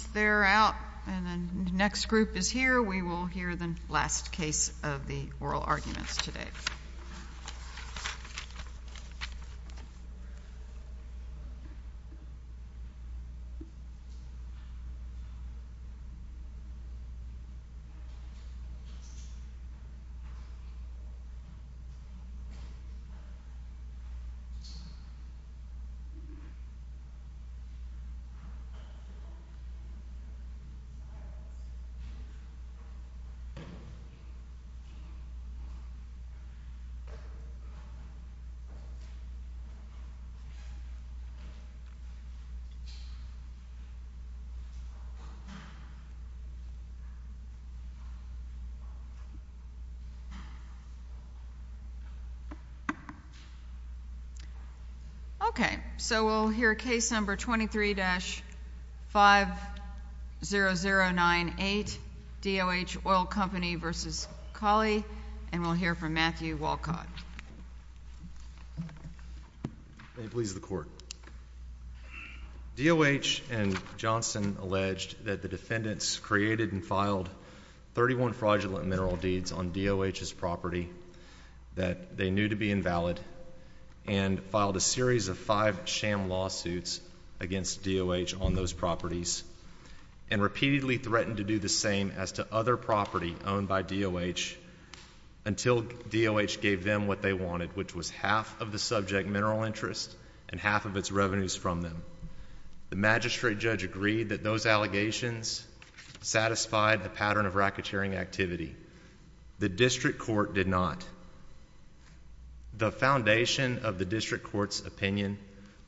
Once they are out and the next group is here, we will hear the last case of the oral arguments today. Okay. So, we'll hear case number 23-50098, DOH Oil Company v. Cawley, and we'll hear from Matthew Walcott. May it please the court. DOH and Johnson alleged that the defendants created and filed 31 fraudulent mineral deeds on DOH's property that they knew to be invalid and filed a series of five sham lawsuits against DOH on those properties and repeatedly threatened to do the same as to other property owned by DOH until DOH gave them what they wanted, which was half of the subject mineral interest and half of its revenues from them. The magistrate judge agreed that those allegations satisfied the pattern of racketeering activity. The district court did not. The foundation of the district court's opinion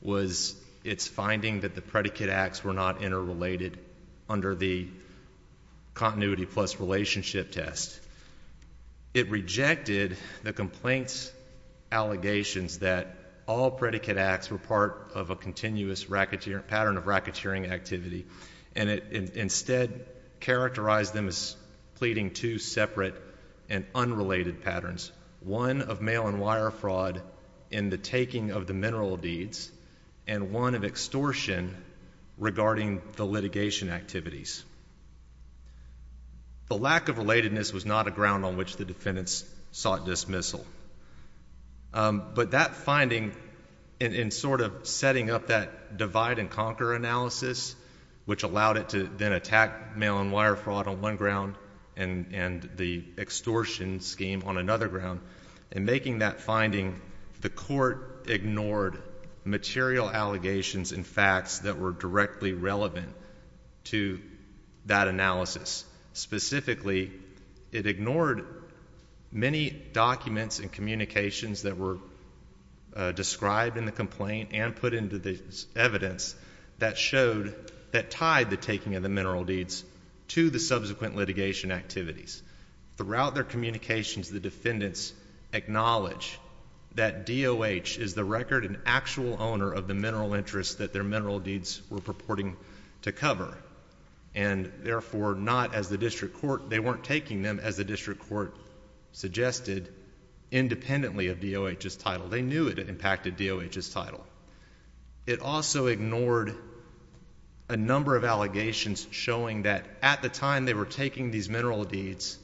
was its finding that the predicate acts were not interrelated under the continuity plus relationship test. It rejected the complaint's allegations that all predicate acts were part of a continuous pattern of racketeering activity and instead characterized them as pleading two separate and unrelated patterns, one of mail and wire fraud in the taking of the mineral deeds and one of extortion regarding the litigation activities. The lack of relatedness was not a ground on which the defendants sought dismissal. But that finding in sort of setting up that divide and conquer analysis, which allowed it to then attack mail and wire fraud on one ground and the extortion scheme on another ground, in making that finding, the court ignored material allegations and facts that were directly relevant to that analysis. Specifically, it ignored many documents and communications that were described in the complaint and put into the evidence that showed that tied the taking of the mineral deeds to the subsequent litigation activities. Throughout their communications, the defendants acknowledged that DOH is the record and actual owner of the mineral interests that their mineral deeds were purporting to cover and therefore not as the district court, they weren't taking them as the district court suggested independently of DOH's title. They knew it impacted DOH's title. It also ignored a number of allegations showing that at the time they were taking these mineral deeds,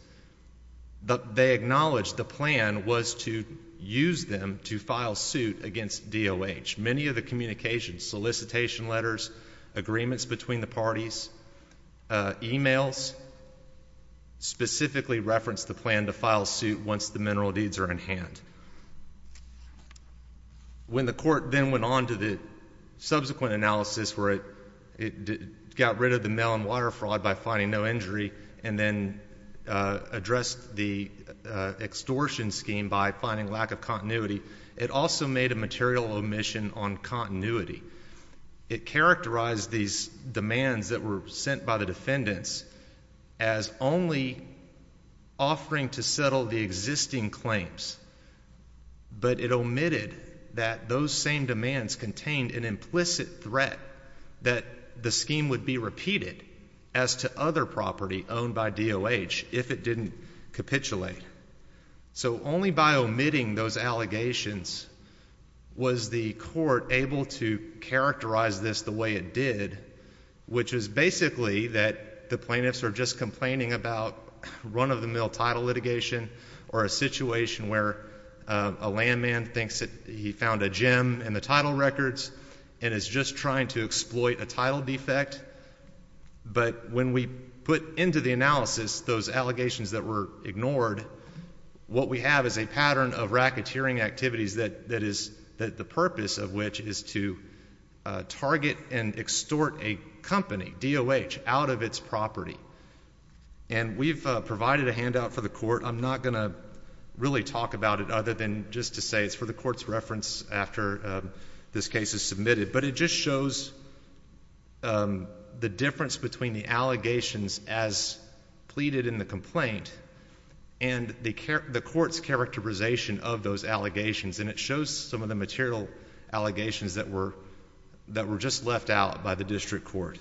they acknowledged the plan was to use them to file suit against DOH. In which many of the communications, solicitation letters, agreements between the parties, emails specifically referenced the plan to file suit once the mineral deeds are in hand. When the court then went on to the subsequent analysis where it got rid of the mail and wire fraud by finding no injury and then addressed the extortion scheme by finding lack of continuity, it also made a material omission on continuity. It characterized these demands that were sent by the defendants as only offering to settle the existing claims, but it omitted that those same demands contained an implicit threat that the scheme would be repeated as to other property owned by DOH if it didn't capitulate. So only by omitting those allegations was the court able to characterize this the way it did, which is basically that the plaintiffs are just complaining about run-of-the-mill title litigation or a situation where a landman thinks that he found a gem in the title records and is just trying to exploit a title defect. But when we put into the analysis those allegations that were ignored, what we have is a pattern of racketeering activities that the purpose of which is to target and extort a company, DOH, out of its property. And we've provided a handout for the court. I'm not going to really talk about it other than just to say it's for the court's reference after this case is submitted. But it just shows the difference between the allegations as pleaded in the complaint and the court's characterization of those allegations, and it shows some of the material allegations that were just left out by the district court.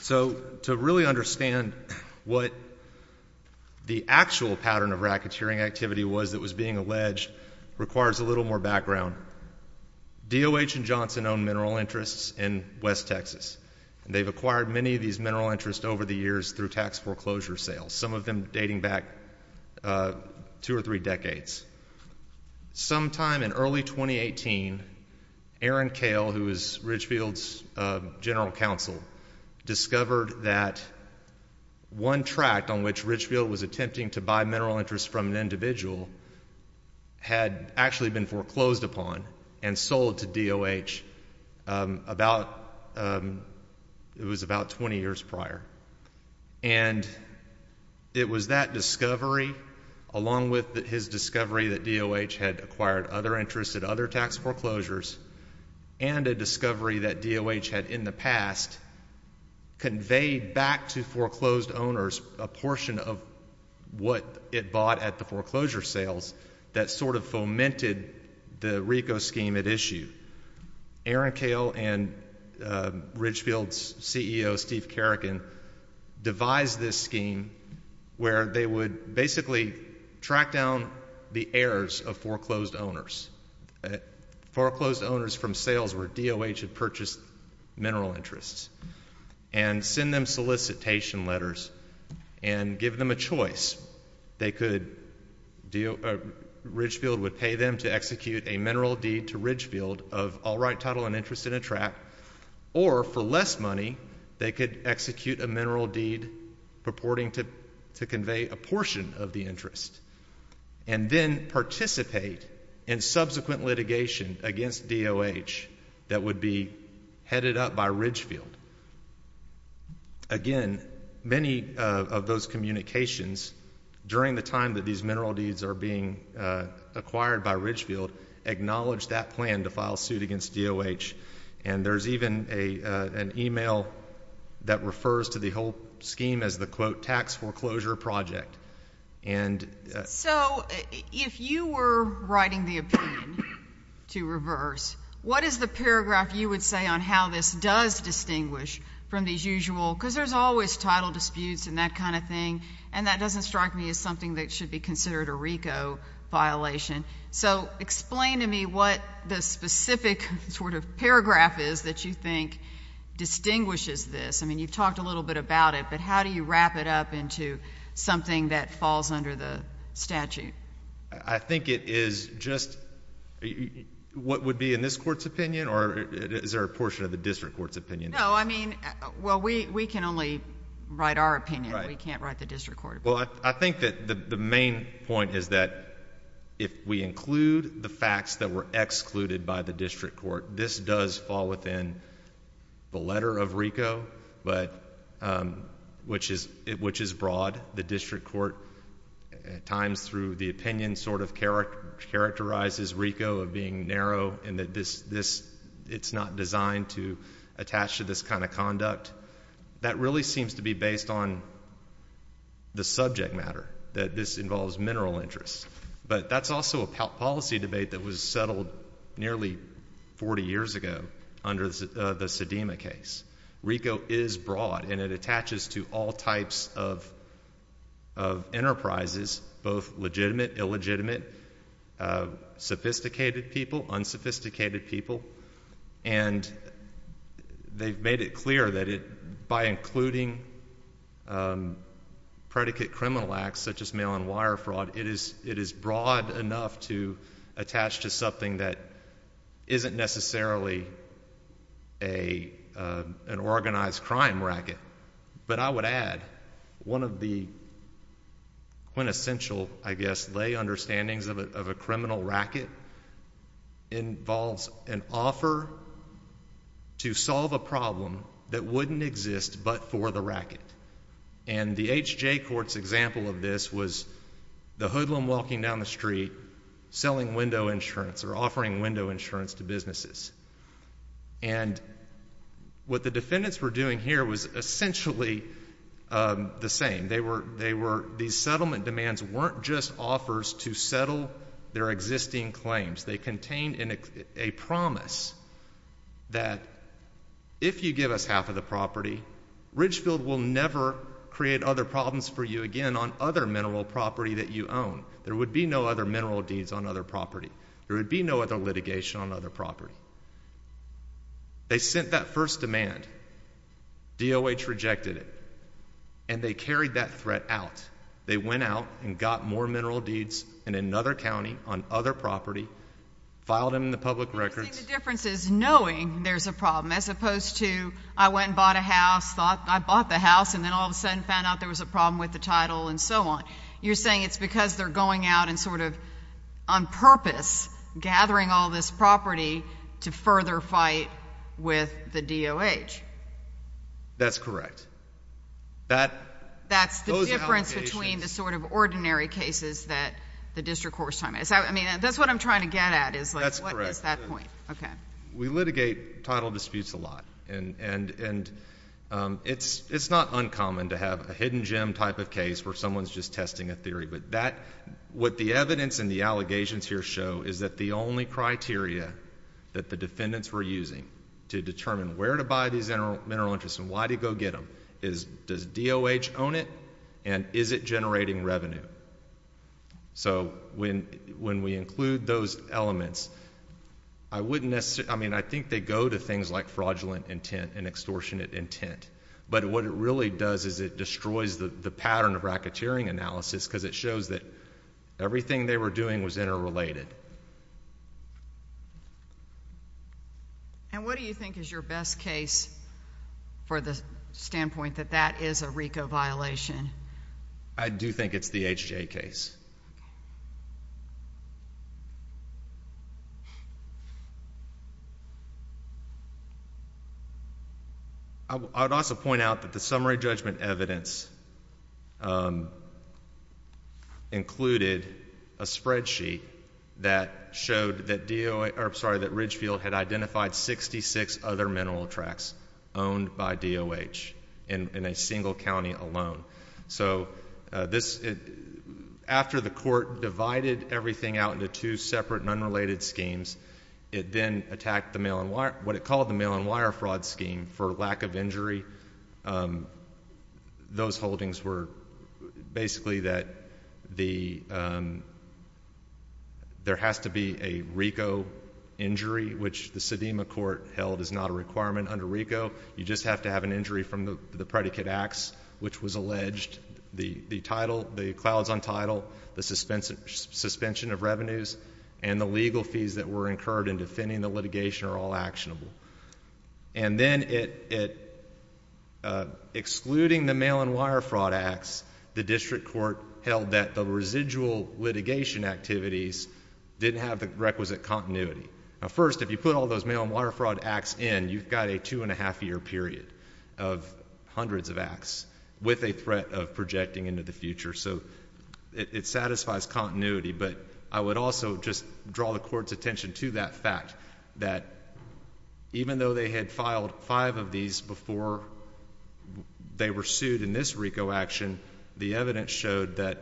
So to really understand what the actual pattern of racketeering activity was that was being alleged requires a little more background. DOH and Johnson own mineral interests in West Texas, and they've acquired many of these mineral interests over the years through tax foreclosure sales, some of them dating back two or three decades. Sometime in early 2018, Aaron Koehl, who is Ridgefield's general counsel, discovered that one tract on which Ridgefield was attempting to buy mineral interests from an individual had actually been foreclosed upon and sold to DOH about 20 years prior. And it was that discovery, along with his discovery that DOH had acquired other interests at other tax foreclosures, and a discovery that DOH had in the past conveyed back to foreclosed owners a portion of what it bought at the foreclosure sales that sort of fomented the RICO scheme at issue. Aaron Koehl and Ridgefield's CEO, Steve Kerrigan, devised this scheme where they would basically track down the heirs of foreclosed owners, foreclosed owners from sales where DOH had purchased mineral interests, and send them solicitation letters and give them a choice. They could do, Ridgefield would pay them to execute a mineral deed to Ridgefield of all right title and interest in a tract, or for less money, they could execute a mineral deed purporting to convey a portion of the interest, and then participate in subsequent litigation against DOH that would be headed up by Ridgefield. Again, many of those communications during the time that these mineral deeds are being acquired by Ridgefield acknowledge that plan to file suit against DOH. And there's even an email that refers to the whole scheme as the, quote, tax foreclosure project. So if you were writing the opinion to reverse, what is the paragraph you would say on how this does distinguish from these usual, because there's always title disputes and that kind of thing, and that doesn't strike me as something that should be considered a RICO violation. So explain to me what the specific sort of paragraph is that you think distinguishes this. I mean, you've talked a little bit about it, but how do you wrap it up into something that falls under the statute? I think it is just what would be in this court's opinion, or is there a portion of the district court's opinion? No, I mean, well, we can only write our opinion. We can't write the district court opinion. Well, I think that the main point is that if we include the facts that were excluded by the district court, this does fall within the letter of RICO, which is broad. The district court at times through the opinion sort of characterizes RICO of being narrow and that it's not designed to attach to this kind of conduct. That really seems to be based on the subject matter, that this involves mineral interests. But that's also a policy debate that was settled nearly 40 years ago under the Sedema case. RICO is broad, and it attaches to all types of enterprises, both legitimate, illegitimate, sophisticated people, unsophisticated people. And they've made it clear that by including predicate criminal acts such as mail-on-wire fraud, it is broad enough to attach to something that isn't necessarily an organized crime racket. But I would add one of the quintessential, I guess, lay understandings of a criminal racket involves an offer to solve a problem that wouldn't exist but for the racket. And the H.J. Court's example of this was the hoodlum walking down the street selling window insurance or offering window insurance to businesses. And what the defendants were doing here was essentially the same. These settlement demands weren't just offers to settle their existing claims. They contained a promise that if you give us half of the property, Ridgefield will never create other problems for you again on other mineral property that you own. There would be no other mineral deeds on other property. There would be no other litigation on other property. They sent that first demand. DOH rejected it. And they carried that threat out. They went out and got more mineral deeds in another county on other property, filed them in the public records. The difference is knowing there's a problem as opposed to I went and bought a house, thought I bought the house, and then all of a sudden found out there was a problem with the title and so on. You're saying it's because they're going out and sort of on purpose gathering all this property to further fight with the DOH. That's correct. That's the difference between the sort of ordinary cases that the district court is talking about. I mean, that's what I'm trying to get at is, like, what is that point? Okay. We litigate title disputes a lot. And it's not uncommon to have a hidden gem type of case where someone's just testing a theory. But what the evidence and the allegations here show is that the only criteria that the defendants were using to determine where to buy these mineral interests and why to go get them is, does DOH own it and is it generating revenue? So when we include those elements, I mean, I think they go to things like fraudulent intent and extortionate intent. But what it really does is it destroys the pattern of racketeering analysis because it shows that everything they were doing was interrelated. And what do you think is your best case for the standpoint that that is a RICO violation? I do think it's the H.J. case. I would also point out that the summary judgment evidence included a spreadsheet that showed that Ridgefield had identified 66 other mineral tracks owned by DOH in a single county alone. So after the court divided everything out into two separate and unrelated schemes, it then attacked what it called the mail-and-wire fraud scheme for lack of injury. Those holdings were basically that there has to be a RICO injury, which the Sedema court held is not a requirement under RICO. You just have to have an injury from the predicate acts, which was alleged. The title, the clouds on title, the suspension of revenues, and the legal fees that were incurred in defending the litigation are all actionable. And then excluding the mail-and-wire fraud acts, the district court held that the residual litigation activities didn't have the requisite continuity. Now, first, if you put all those mail-and-wire fraud acts in, you've got a two-and-a-half-year period of hundreds of acts with a threat of projecting into the future. So it satisfies continuity. But I would also just draw the court's attention to that fact, that even though they had filed five of these before they were sued in this RICO action, the evidence showed that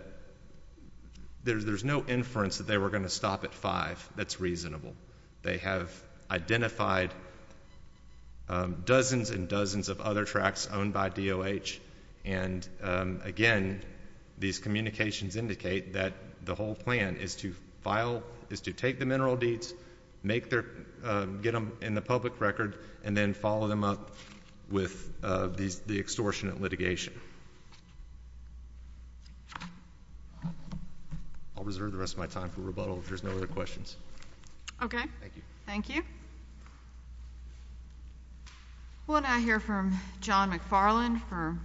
there's no inference that they were going to stop at five. That's reasonable. They have identified dozens and dozens of other tracks owned by DOH. And, again, these communications indicate that the whole plan is to take the mineral deeds, get them in the public record, and then follow them up with the extortionate litigation. I'll reserve the rest of my time for rebuttal if there's no other questions. Thank you. We'll now hear from John McFarland, our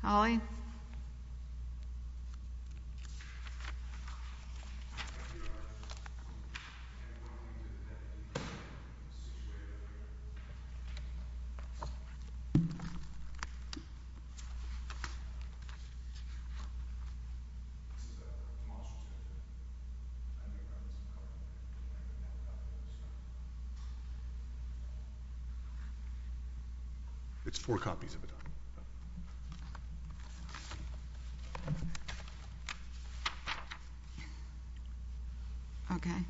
colleague. It's four copies of a document.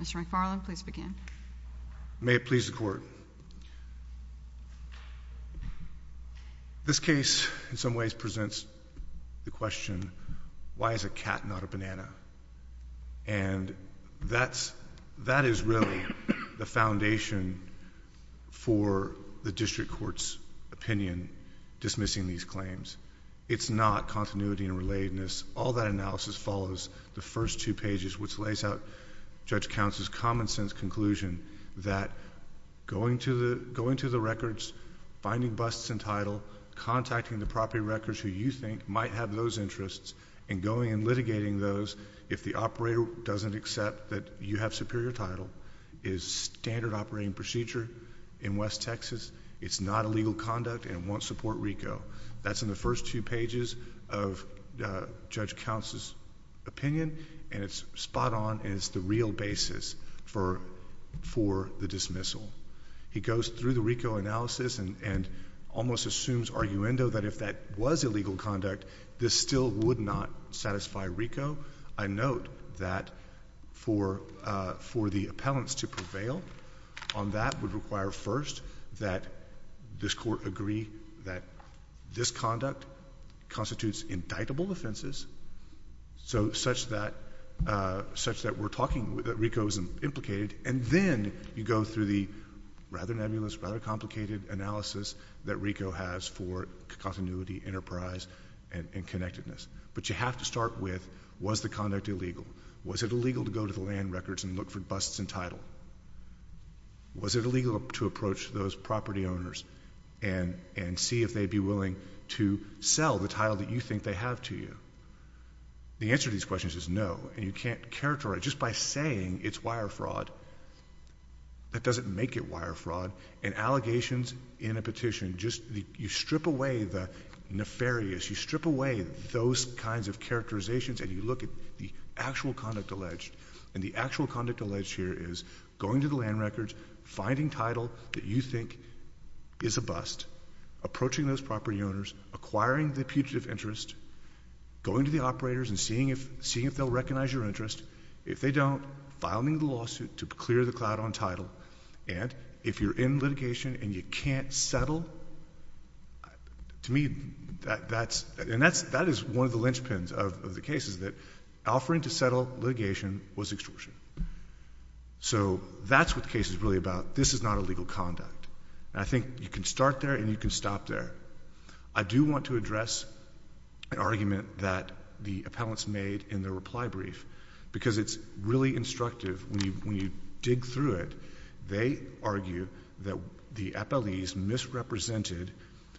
Okay. Mr. McFarland, please begin. May it please the Court. This case, in some ways, presents the question, why is a cat not a banana? And that is really the foundation for the district court's opinion dismissing these claims. It's not continuity and relatedness. All that analysis follows the first two pages, which lays out Judge Count's common sense conclusion that going to the records, finding busts in title, contacting the property records who you think might have those interests, and going and litigating those if the operator doesn't accept that you have superior title, is standard operating procedure in West Texas. It's not illegal conduct and won't support RICO. That's in the first two pages of Judge Count's opinion, and it's spot on and it's the real basis for the dismissal. He goes through the RICO analysis and almost assumes arguendo that if that was illegal conduct, that this still would not satisfy RICO. I note that for the appellants to prevail on that would require, first, that this Court agree that this conduct constitutes indictable offenses, such that we're talking that RICO is implicated, and then you go through the rather nebulous, rather complicated analysis that RICO has for continuity, enterprise, and connectedness. But you have to start with, was the conduct illegal? Was it illegal to go to the land records and look for busts in title? Was it illegal to approach those property owners and see if they'd be willing to sell the title that you think they have to you? The answer to these questions is no, and you can't characterize it. It's wire fraud. That doesn't make it wire fraud. And allegations in a petition, you strip away the nefarious. You strip away those kinds of characterizations, and you look at the actual conduct alleged. And the actual conduct alleged here is going to the land records, finding title that you think is a bust, approaching those property owners, acquiring the putative interest, going to the operators and seeing if they'll recognize your interest. If they don't, filing the lawsuit to clear the cloud on title. And if you're in litigation and you can't settle, to me that's one of the linchpins of the cases, that offering to settle litigation was extortion. So that's what the case is really about. This is not illegal conduct. And I think you can start there and you can stop there. I do want to address an argument that the appellants made in their reply brief, because it's really instructive when you dig through it. They argue that the appellees misrepresented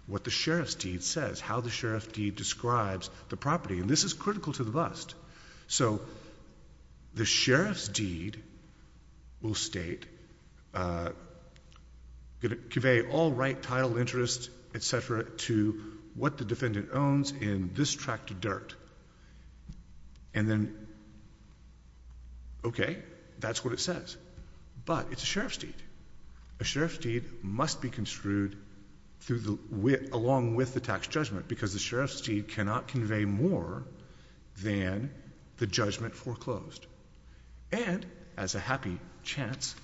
what the sheriff's deed says, how the sheriff's deed describes the property, and this is critical to the bust. So the sheriff's deed will state, convey all right, title, interest, et cetera, to what the defendant owns in this tract of dirt. And then, okay, that's what it says. But it's a sheriff's deed. A sheriff's deed must be construed along with the tax judgment, because the sheriff's deed cannot convey more than the judgment foreclosed. And as a happy chance,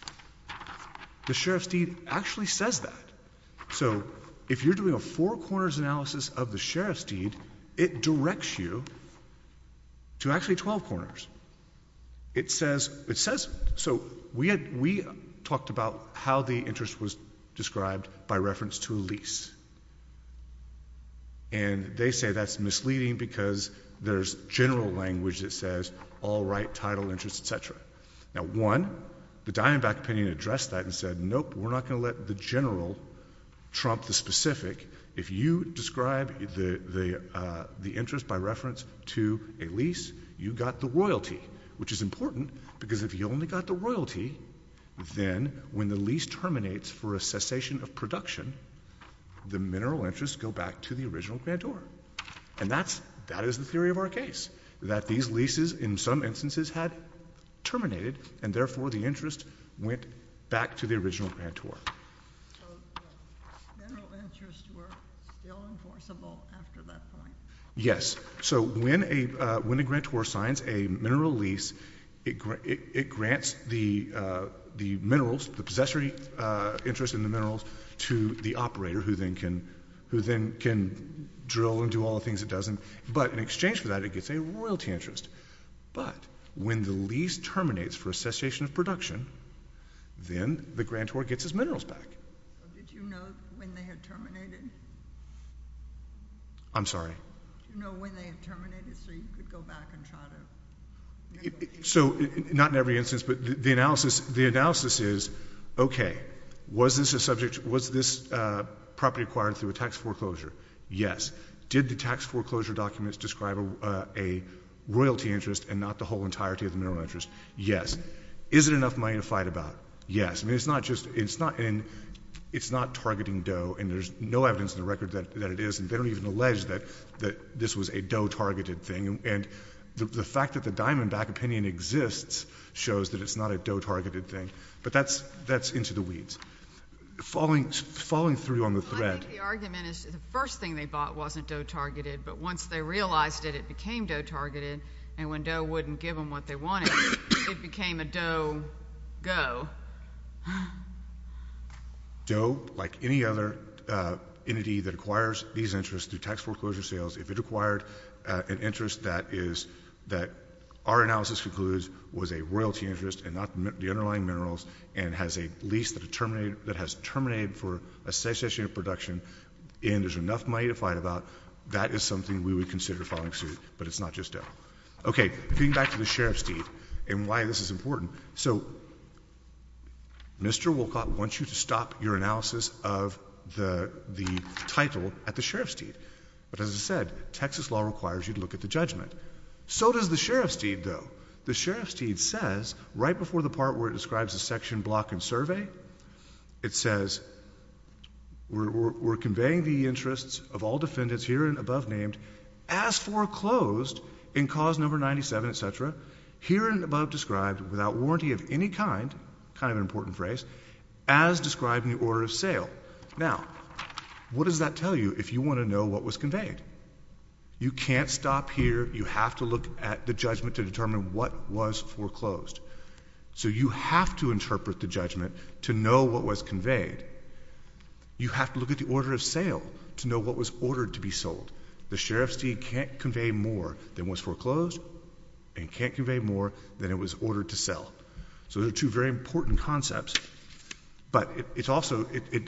the sheriff's deed actually says that. So if you're doing a four corners analysis of the sheriff's deed, it directs you to actually 12 corners. It says, so we talked about how the interest was described by reference to a lease. And they say that's misleading because there's general language that says all right, title, interest, et cetera. Now, one, the Diamondback opinion addressed that and said, nope, we're not going to let the general trump the specific. If you describe the interest by reference to a lease, you got the royalty, which is important because if you only got the royalty, then when the lease terminates for a cessation of production, the mineral interests go back to the original grantor. And that is the theory of our case, that these leases in some instances had terminated, and therefore the interest went back to the original grantor. So the mineral interests were still enforceable after that point? Yes. So when a grantor signs a mineral lease, it grants the minerals, the possessory interest in the minerals to the operator who then can drill and do all the things it doesn't. But in exchange for that, it gets a royalty interest. But when the lease terminates for a cessation of production, then the grantor gets his minerals back. Did you know when they had terminated? I'm sorry? Did you know when they had terminated so you could go back and try to negotiate? So not in every instance, but the analysis is, okay, was this property acquired through a tax foreclosure? Yes. Did the tax foreclosure documents describe a royalty interest and not the whole entirety of the mineral interest? Yes. Is it enough money to fight about? Yes. I mean, it's not just — it's not targeting Doe, and there's no evidence in the record that it is. And they don't even allege that this was a Doe-targeted thing. And the fact that the Diamondback opinion exists shows that it's not a Doe-targeted thing. But that's into the weeds. Falling through on the threat. I think the argument is the first thing they bought wasn't Doe-targeted, but once they realized it, it became Doe-targeted. And when Doe wouldn't give them what they wanted, it became a Doe-go. Doe, like any other entity that acquires these interests through tax foreclosure sales, if it acquired an interest that is — that our analysis concludes was a royalty interest and not the underlying minerals and has a lease that has terminated for a cessation of production and there's enough money to fight about, that is something we would consider falling through, but it's not just Doe. Okay. Getting back to the sheriff's deed and why this is important. So Mr. Wolcott wants you to stop your analysis of the title at the sheriff's deed. But as I said, Texas law requires you to look at the judgment. So does the sheriff's deed, though. The sheriff's deed says right before the part where it describes a section, block, and survey, it says we're conveying the interests of all defendants here and above named as foreclosed in cause number 97, etc., here and above described without warranty of any kind, kind of an important phrase, as described in the order of sale. Now, what does that tell you if you want to know what was conveyed? You can't stop here. You have to look at the judgment to determine what was foreclosed. So you have to interpret the judgment to know what was conveyed. You have to look at the order of sale to know what was ordered to be sold. The sheriff's deed can't convey more than was foreclosed and can't convey more than it was ordered to sell. So there are two very important concepts. But it's also, it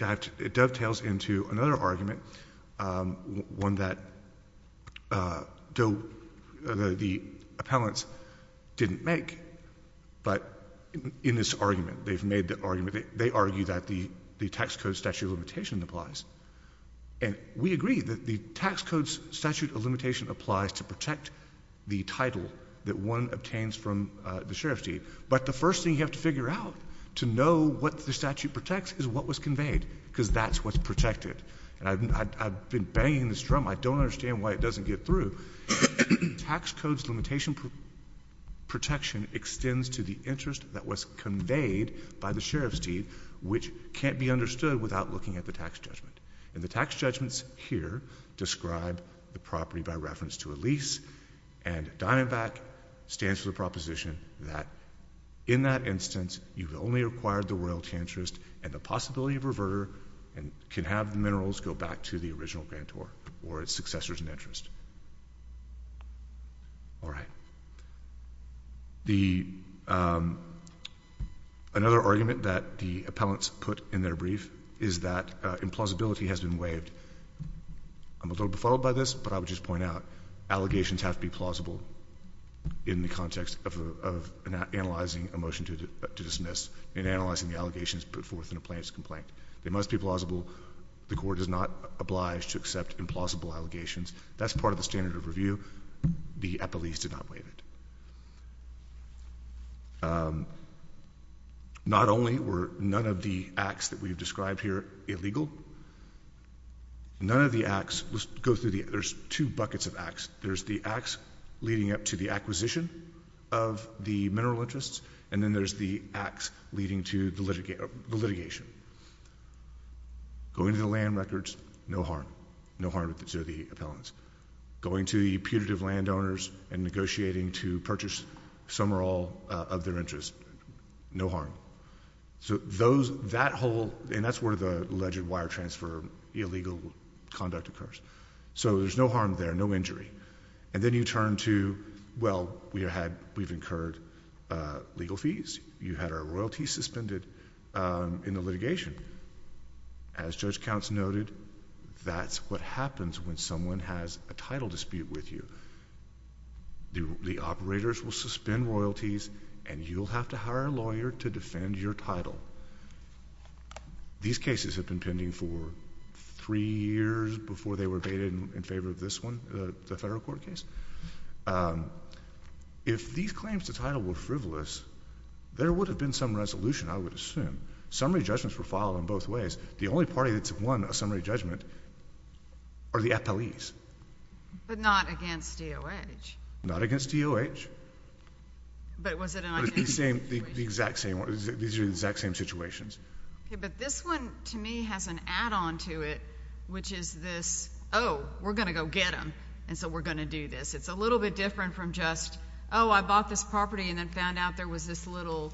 dovetails into another argument, one that the appellants didn't make. But in this argument, they've made the argument, they argue that the tax code statute of limitation applies. And we agree that the tax code statute of limitation applies to protect the title that one obtains from the sheriff's deed. But the first thing you have to figure out to know what the statute protects is what was conveyed, because that's what's protected. And I've been banging this drum. I don't understand why it doesn't get through. Tax code's limitation protection extends to the interest that was conveyed by the sheriff's deed, which can't be understood without looking at the tax judgment. And Diamondback stands for the proposition that in that instance, you've only acquired the royalty interest and the possibility of reverter and can have the minerals go back to the original grantor or its successors in interest. All right. Another argument that the appellants put in their brief is that implausibility has been waived. I'm a little befuddled by this, but I would just point out, allegations have to be plausible in the context of analyzing a motion to dismiss and analyzing the allegations put forth in a plaintiff's complaint. They must be plausible. The court is not obliged to accept implausible allegations. That's part of the standard of review. The appellees did not waive it. Not only were none of the acts that we've described here illegal, none of the acts, let's go through the, there's two buckets of acts. There's the acts leading up to the acquisition of the mineral interests, and then there's the acts leading to the litigation. Going to the land records, no harm. No harm to the appellants. Going to the putative landowners and negotiating to purchase some or all of their interest, no harm. So those, that whole, and that's where the alleged wire transfer illegal conduct occurs. So there's no harm there, no injury. And then you turn to, well, we've incurred legal fees. You had our royalty suspended in the litigation. As Judge Counts noted, that's what happens when someone has a title dispute with you. The operators will suspend royalties, and you'll have to hire a lawyer to defend your title. These cases have been pending for three years before they were abated in favor of this one, the federal court case. If these claims to title were frivolous, there would have been some resolution, I would assume. Summary judgments were filed in both ways. The only party that's won a summary judgment are the appellees. But not against DOH. Not against DOH. But was it an identity situation? These are the exact same situations. Okay, but this one, to me, has an add-on to it, which is this, oh, we're going to go get them, and so we're going to do this. It's a little bit different from just, oh, I bought this property and then found out there was this little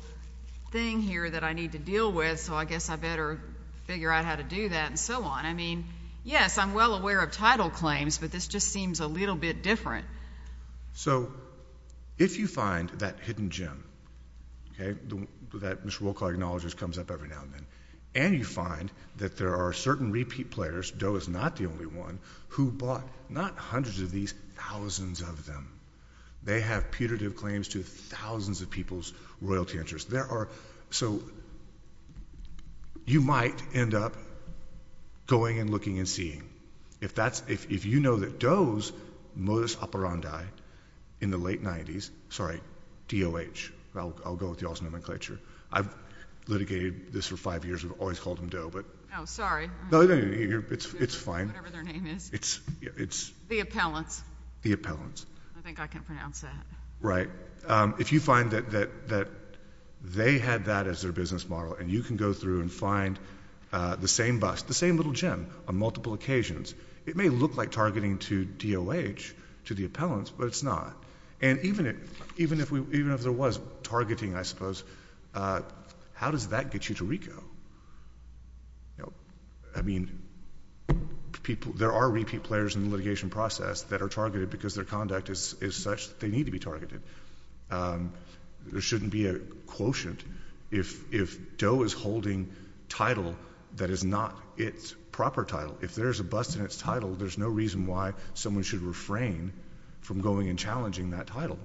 thing here that I need to deal with, so I guess I better figure out how to do that, and so on. I mean, yes, I'm well aware of title claims, but this just seems a little bit different. So if you find that hidden gem, okay, that Mr. Wolcott acknowledges comes up every now and then, and you find that there are certain repeat players, DOH is not the only one, who bought not hundreds of these, thousands of them. They have putative claims to thousands of people's royalty interests. So you might end up going and looking and seeing. If you know that DOH's modus operandi in the late 90s, sorry, DOH, I'll go with y'all's nomenclature. I've litigated this for five years. We've always called them DOH, but. Oh, sorry. No, it's fine. Whatever their name is. It's. The Appellants. The Appellants. I think I can pronounce that. Right. If you find that they had that as their business model, and you can go through and find the same bust, the same little gem on multiple occasions, it may look like targeting to DOH, to the Appellants, but it's not, and even if there was targeting, I suppose, how does that get you to RICO? I mean, there are repeat players in the litigation process that are targeted because their conduct is such that they need to be targeted. There shouldn't be a quotient if DOH is holding title that is not its proper title. If there's a bust in its title, there's no reason why someone should refrain from going and challenging that title.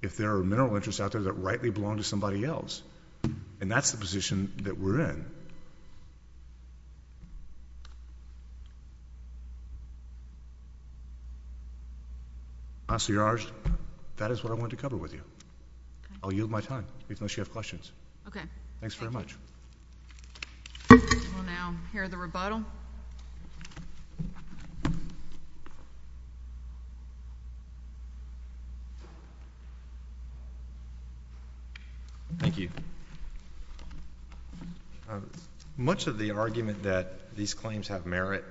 If there are mineral interests out there that rightly belong to somebody else, and that's the position that we're in. Counselor Yarge, that is what I wanted to cover with you. I'll yield my time, unless you have questions. Okay. Thanks very much. We'll now hear the rebuttal. Thank you. Much of the argument that these claims have merit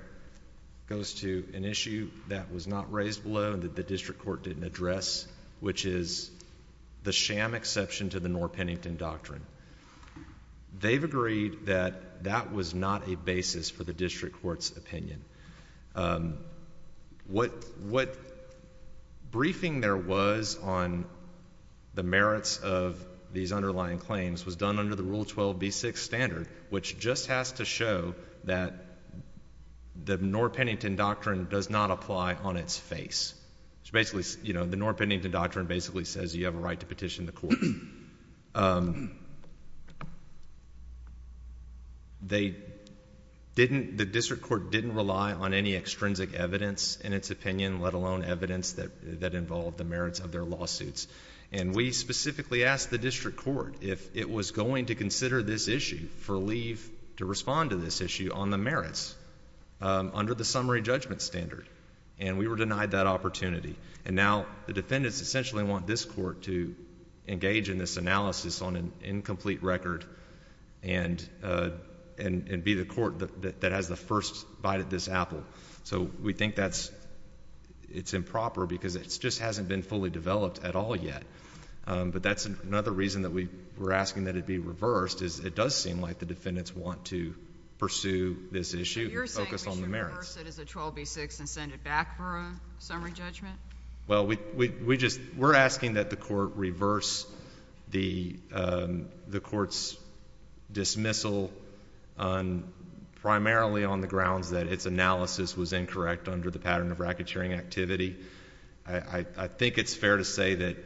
goes to an issue that was not raised below and that the district court didn't address, which is the sham exception to the Norr-Pennington Doctrine. They've agreed that that was not a basis for the district court's opinion. What briefing there was on the merits of these underlying claims was done under the Rule 12b6 standard, which just has to show that the Norr-Pennington Doctrine does not apply on its face. The Norr-Pennington Doctrine basically says you have a right to petition the court. The district court didn't rely on any extrinsic evidence in its opinion, let alone evidence that involved the merits of their lawsuits. And we specifically asked the district court if it was going to consider this issue for leave to respond to this issue on the merits, under the summary judgment standard. And we were denied that opportunity. And now the defendants essentially want this court to engage in this analysis on an incomplete record and be the court that has the first bite at this apple. So we think that's improper because it just hasn't been fully developed at all yet. But that's another reason that we were asking that it be reversed is it does seem like the defendants want to pursue this issue and focus on the merits. Do you want to reverse it as a 12b6 and send it back for a summary judgment? Well, we're asking that the court reverse the court's dismissal primarily on the grounds that its analysis was incorrect under the pattern of racketeering activity. I think it's fair to say that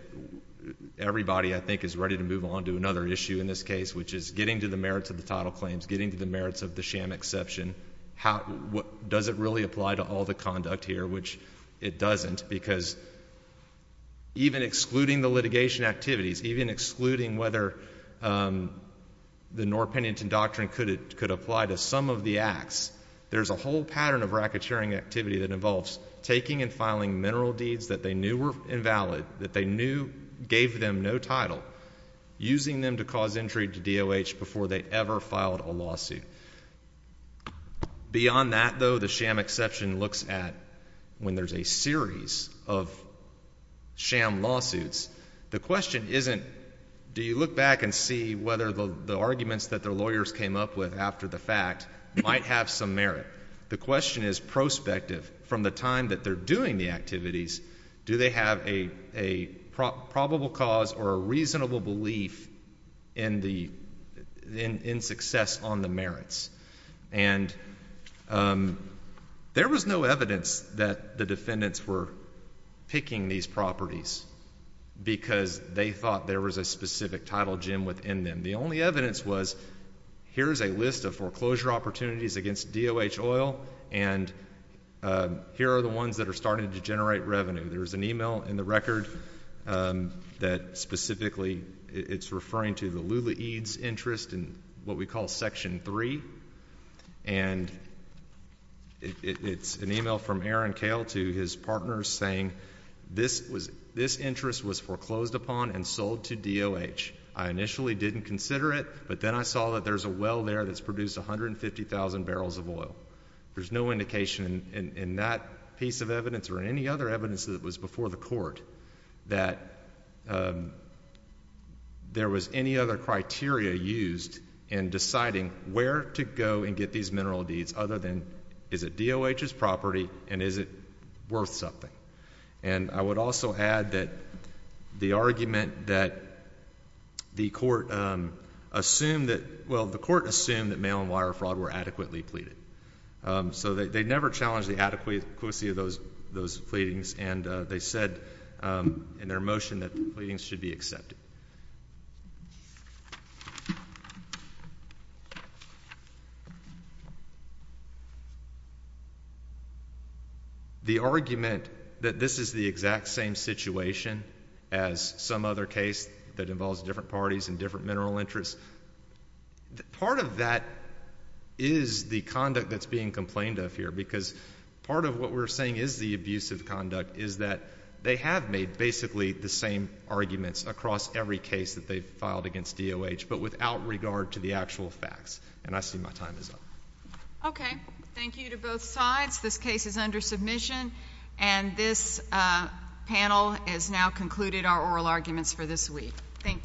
everybody, I think, is ready to move on to another issue in this case, which is getting to the merits of the title claims, getting to the merits of the sham exception. Does it really apply to all the conduct here? Which it doesn't because even excluding the litigation activities, even excluding whether the Norr-Pennington Doctrine could apply to some of the acts, there's a whole pattern of racketeering activity that involves taking and filing mineral deeds that they knew were invalid, that they knew gave them no title, using them to cause intrigue to DOH before they ever filed a lawsuit. Beyond that, though, the sham exception looks at when there's a series of sham lawsuits. The question isn't do you look back and see whether the arguments that the lawyers came up with after the fact might have some merit. The question is prospective. From the time that they're doing the activities, do they have a probable cause or a reasonable belief in success on the merits? And there was no evidence that the defendants were picking these properties because they thought there was a specific title gem within them. And the only evidence was here's a list of foreclosure opportunities against DOH oil, and here are the ones that are starting to generate revenue. There's an email in the record that specifically it's referring to the Lula Eads interest in what we call Section 3, and it's an email from Aaron Koehl to his partners saying this interest was foreclosed upon and sold to DOH. I initially didn't consider it, but then I saw that there's a well there that's produced 150,000 barrels of oil. There's no indication in that piece of evidence or in any other evidence that was before the court that there was any other criteria used in deciding where to go and get these mineral deeds other than is it DOH's property and is it worth something? And I would also add that the argument that the court assumed that mail and wire fraud were adequately pleaded. So they never challenged the adequacy of those pleadings, and they said in their motion that the pleadings should be accepted. The argument that this is the exact same situation as some other case that involves different parties and different mineral interests, part of that is the conduct that's being complained of here because part of what we're saying is the abusive conduct is that they have made basically the same arguments across every case that they've filed against DOH, but without regard to the actual facts. And I see my time is up. Okay. Thank you to both sides. This case is under submission, and this panel has now concluded our oral arguments for this week. Thank you.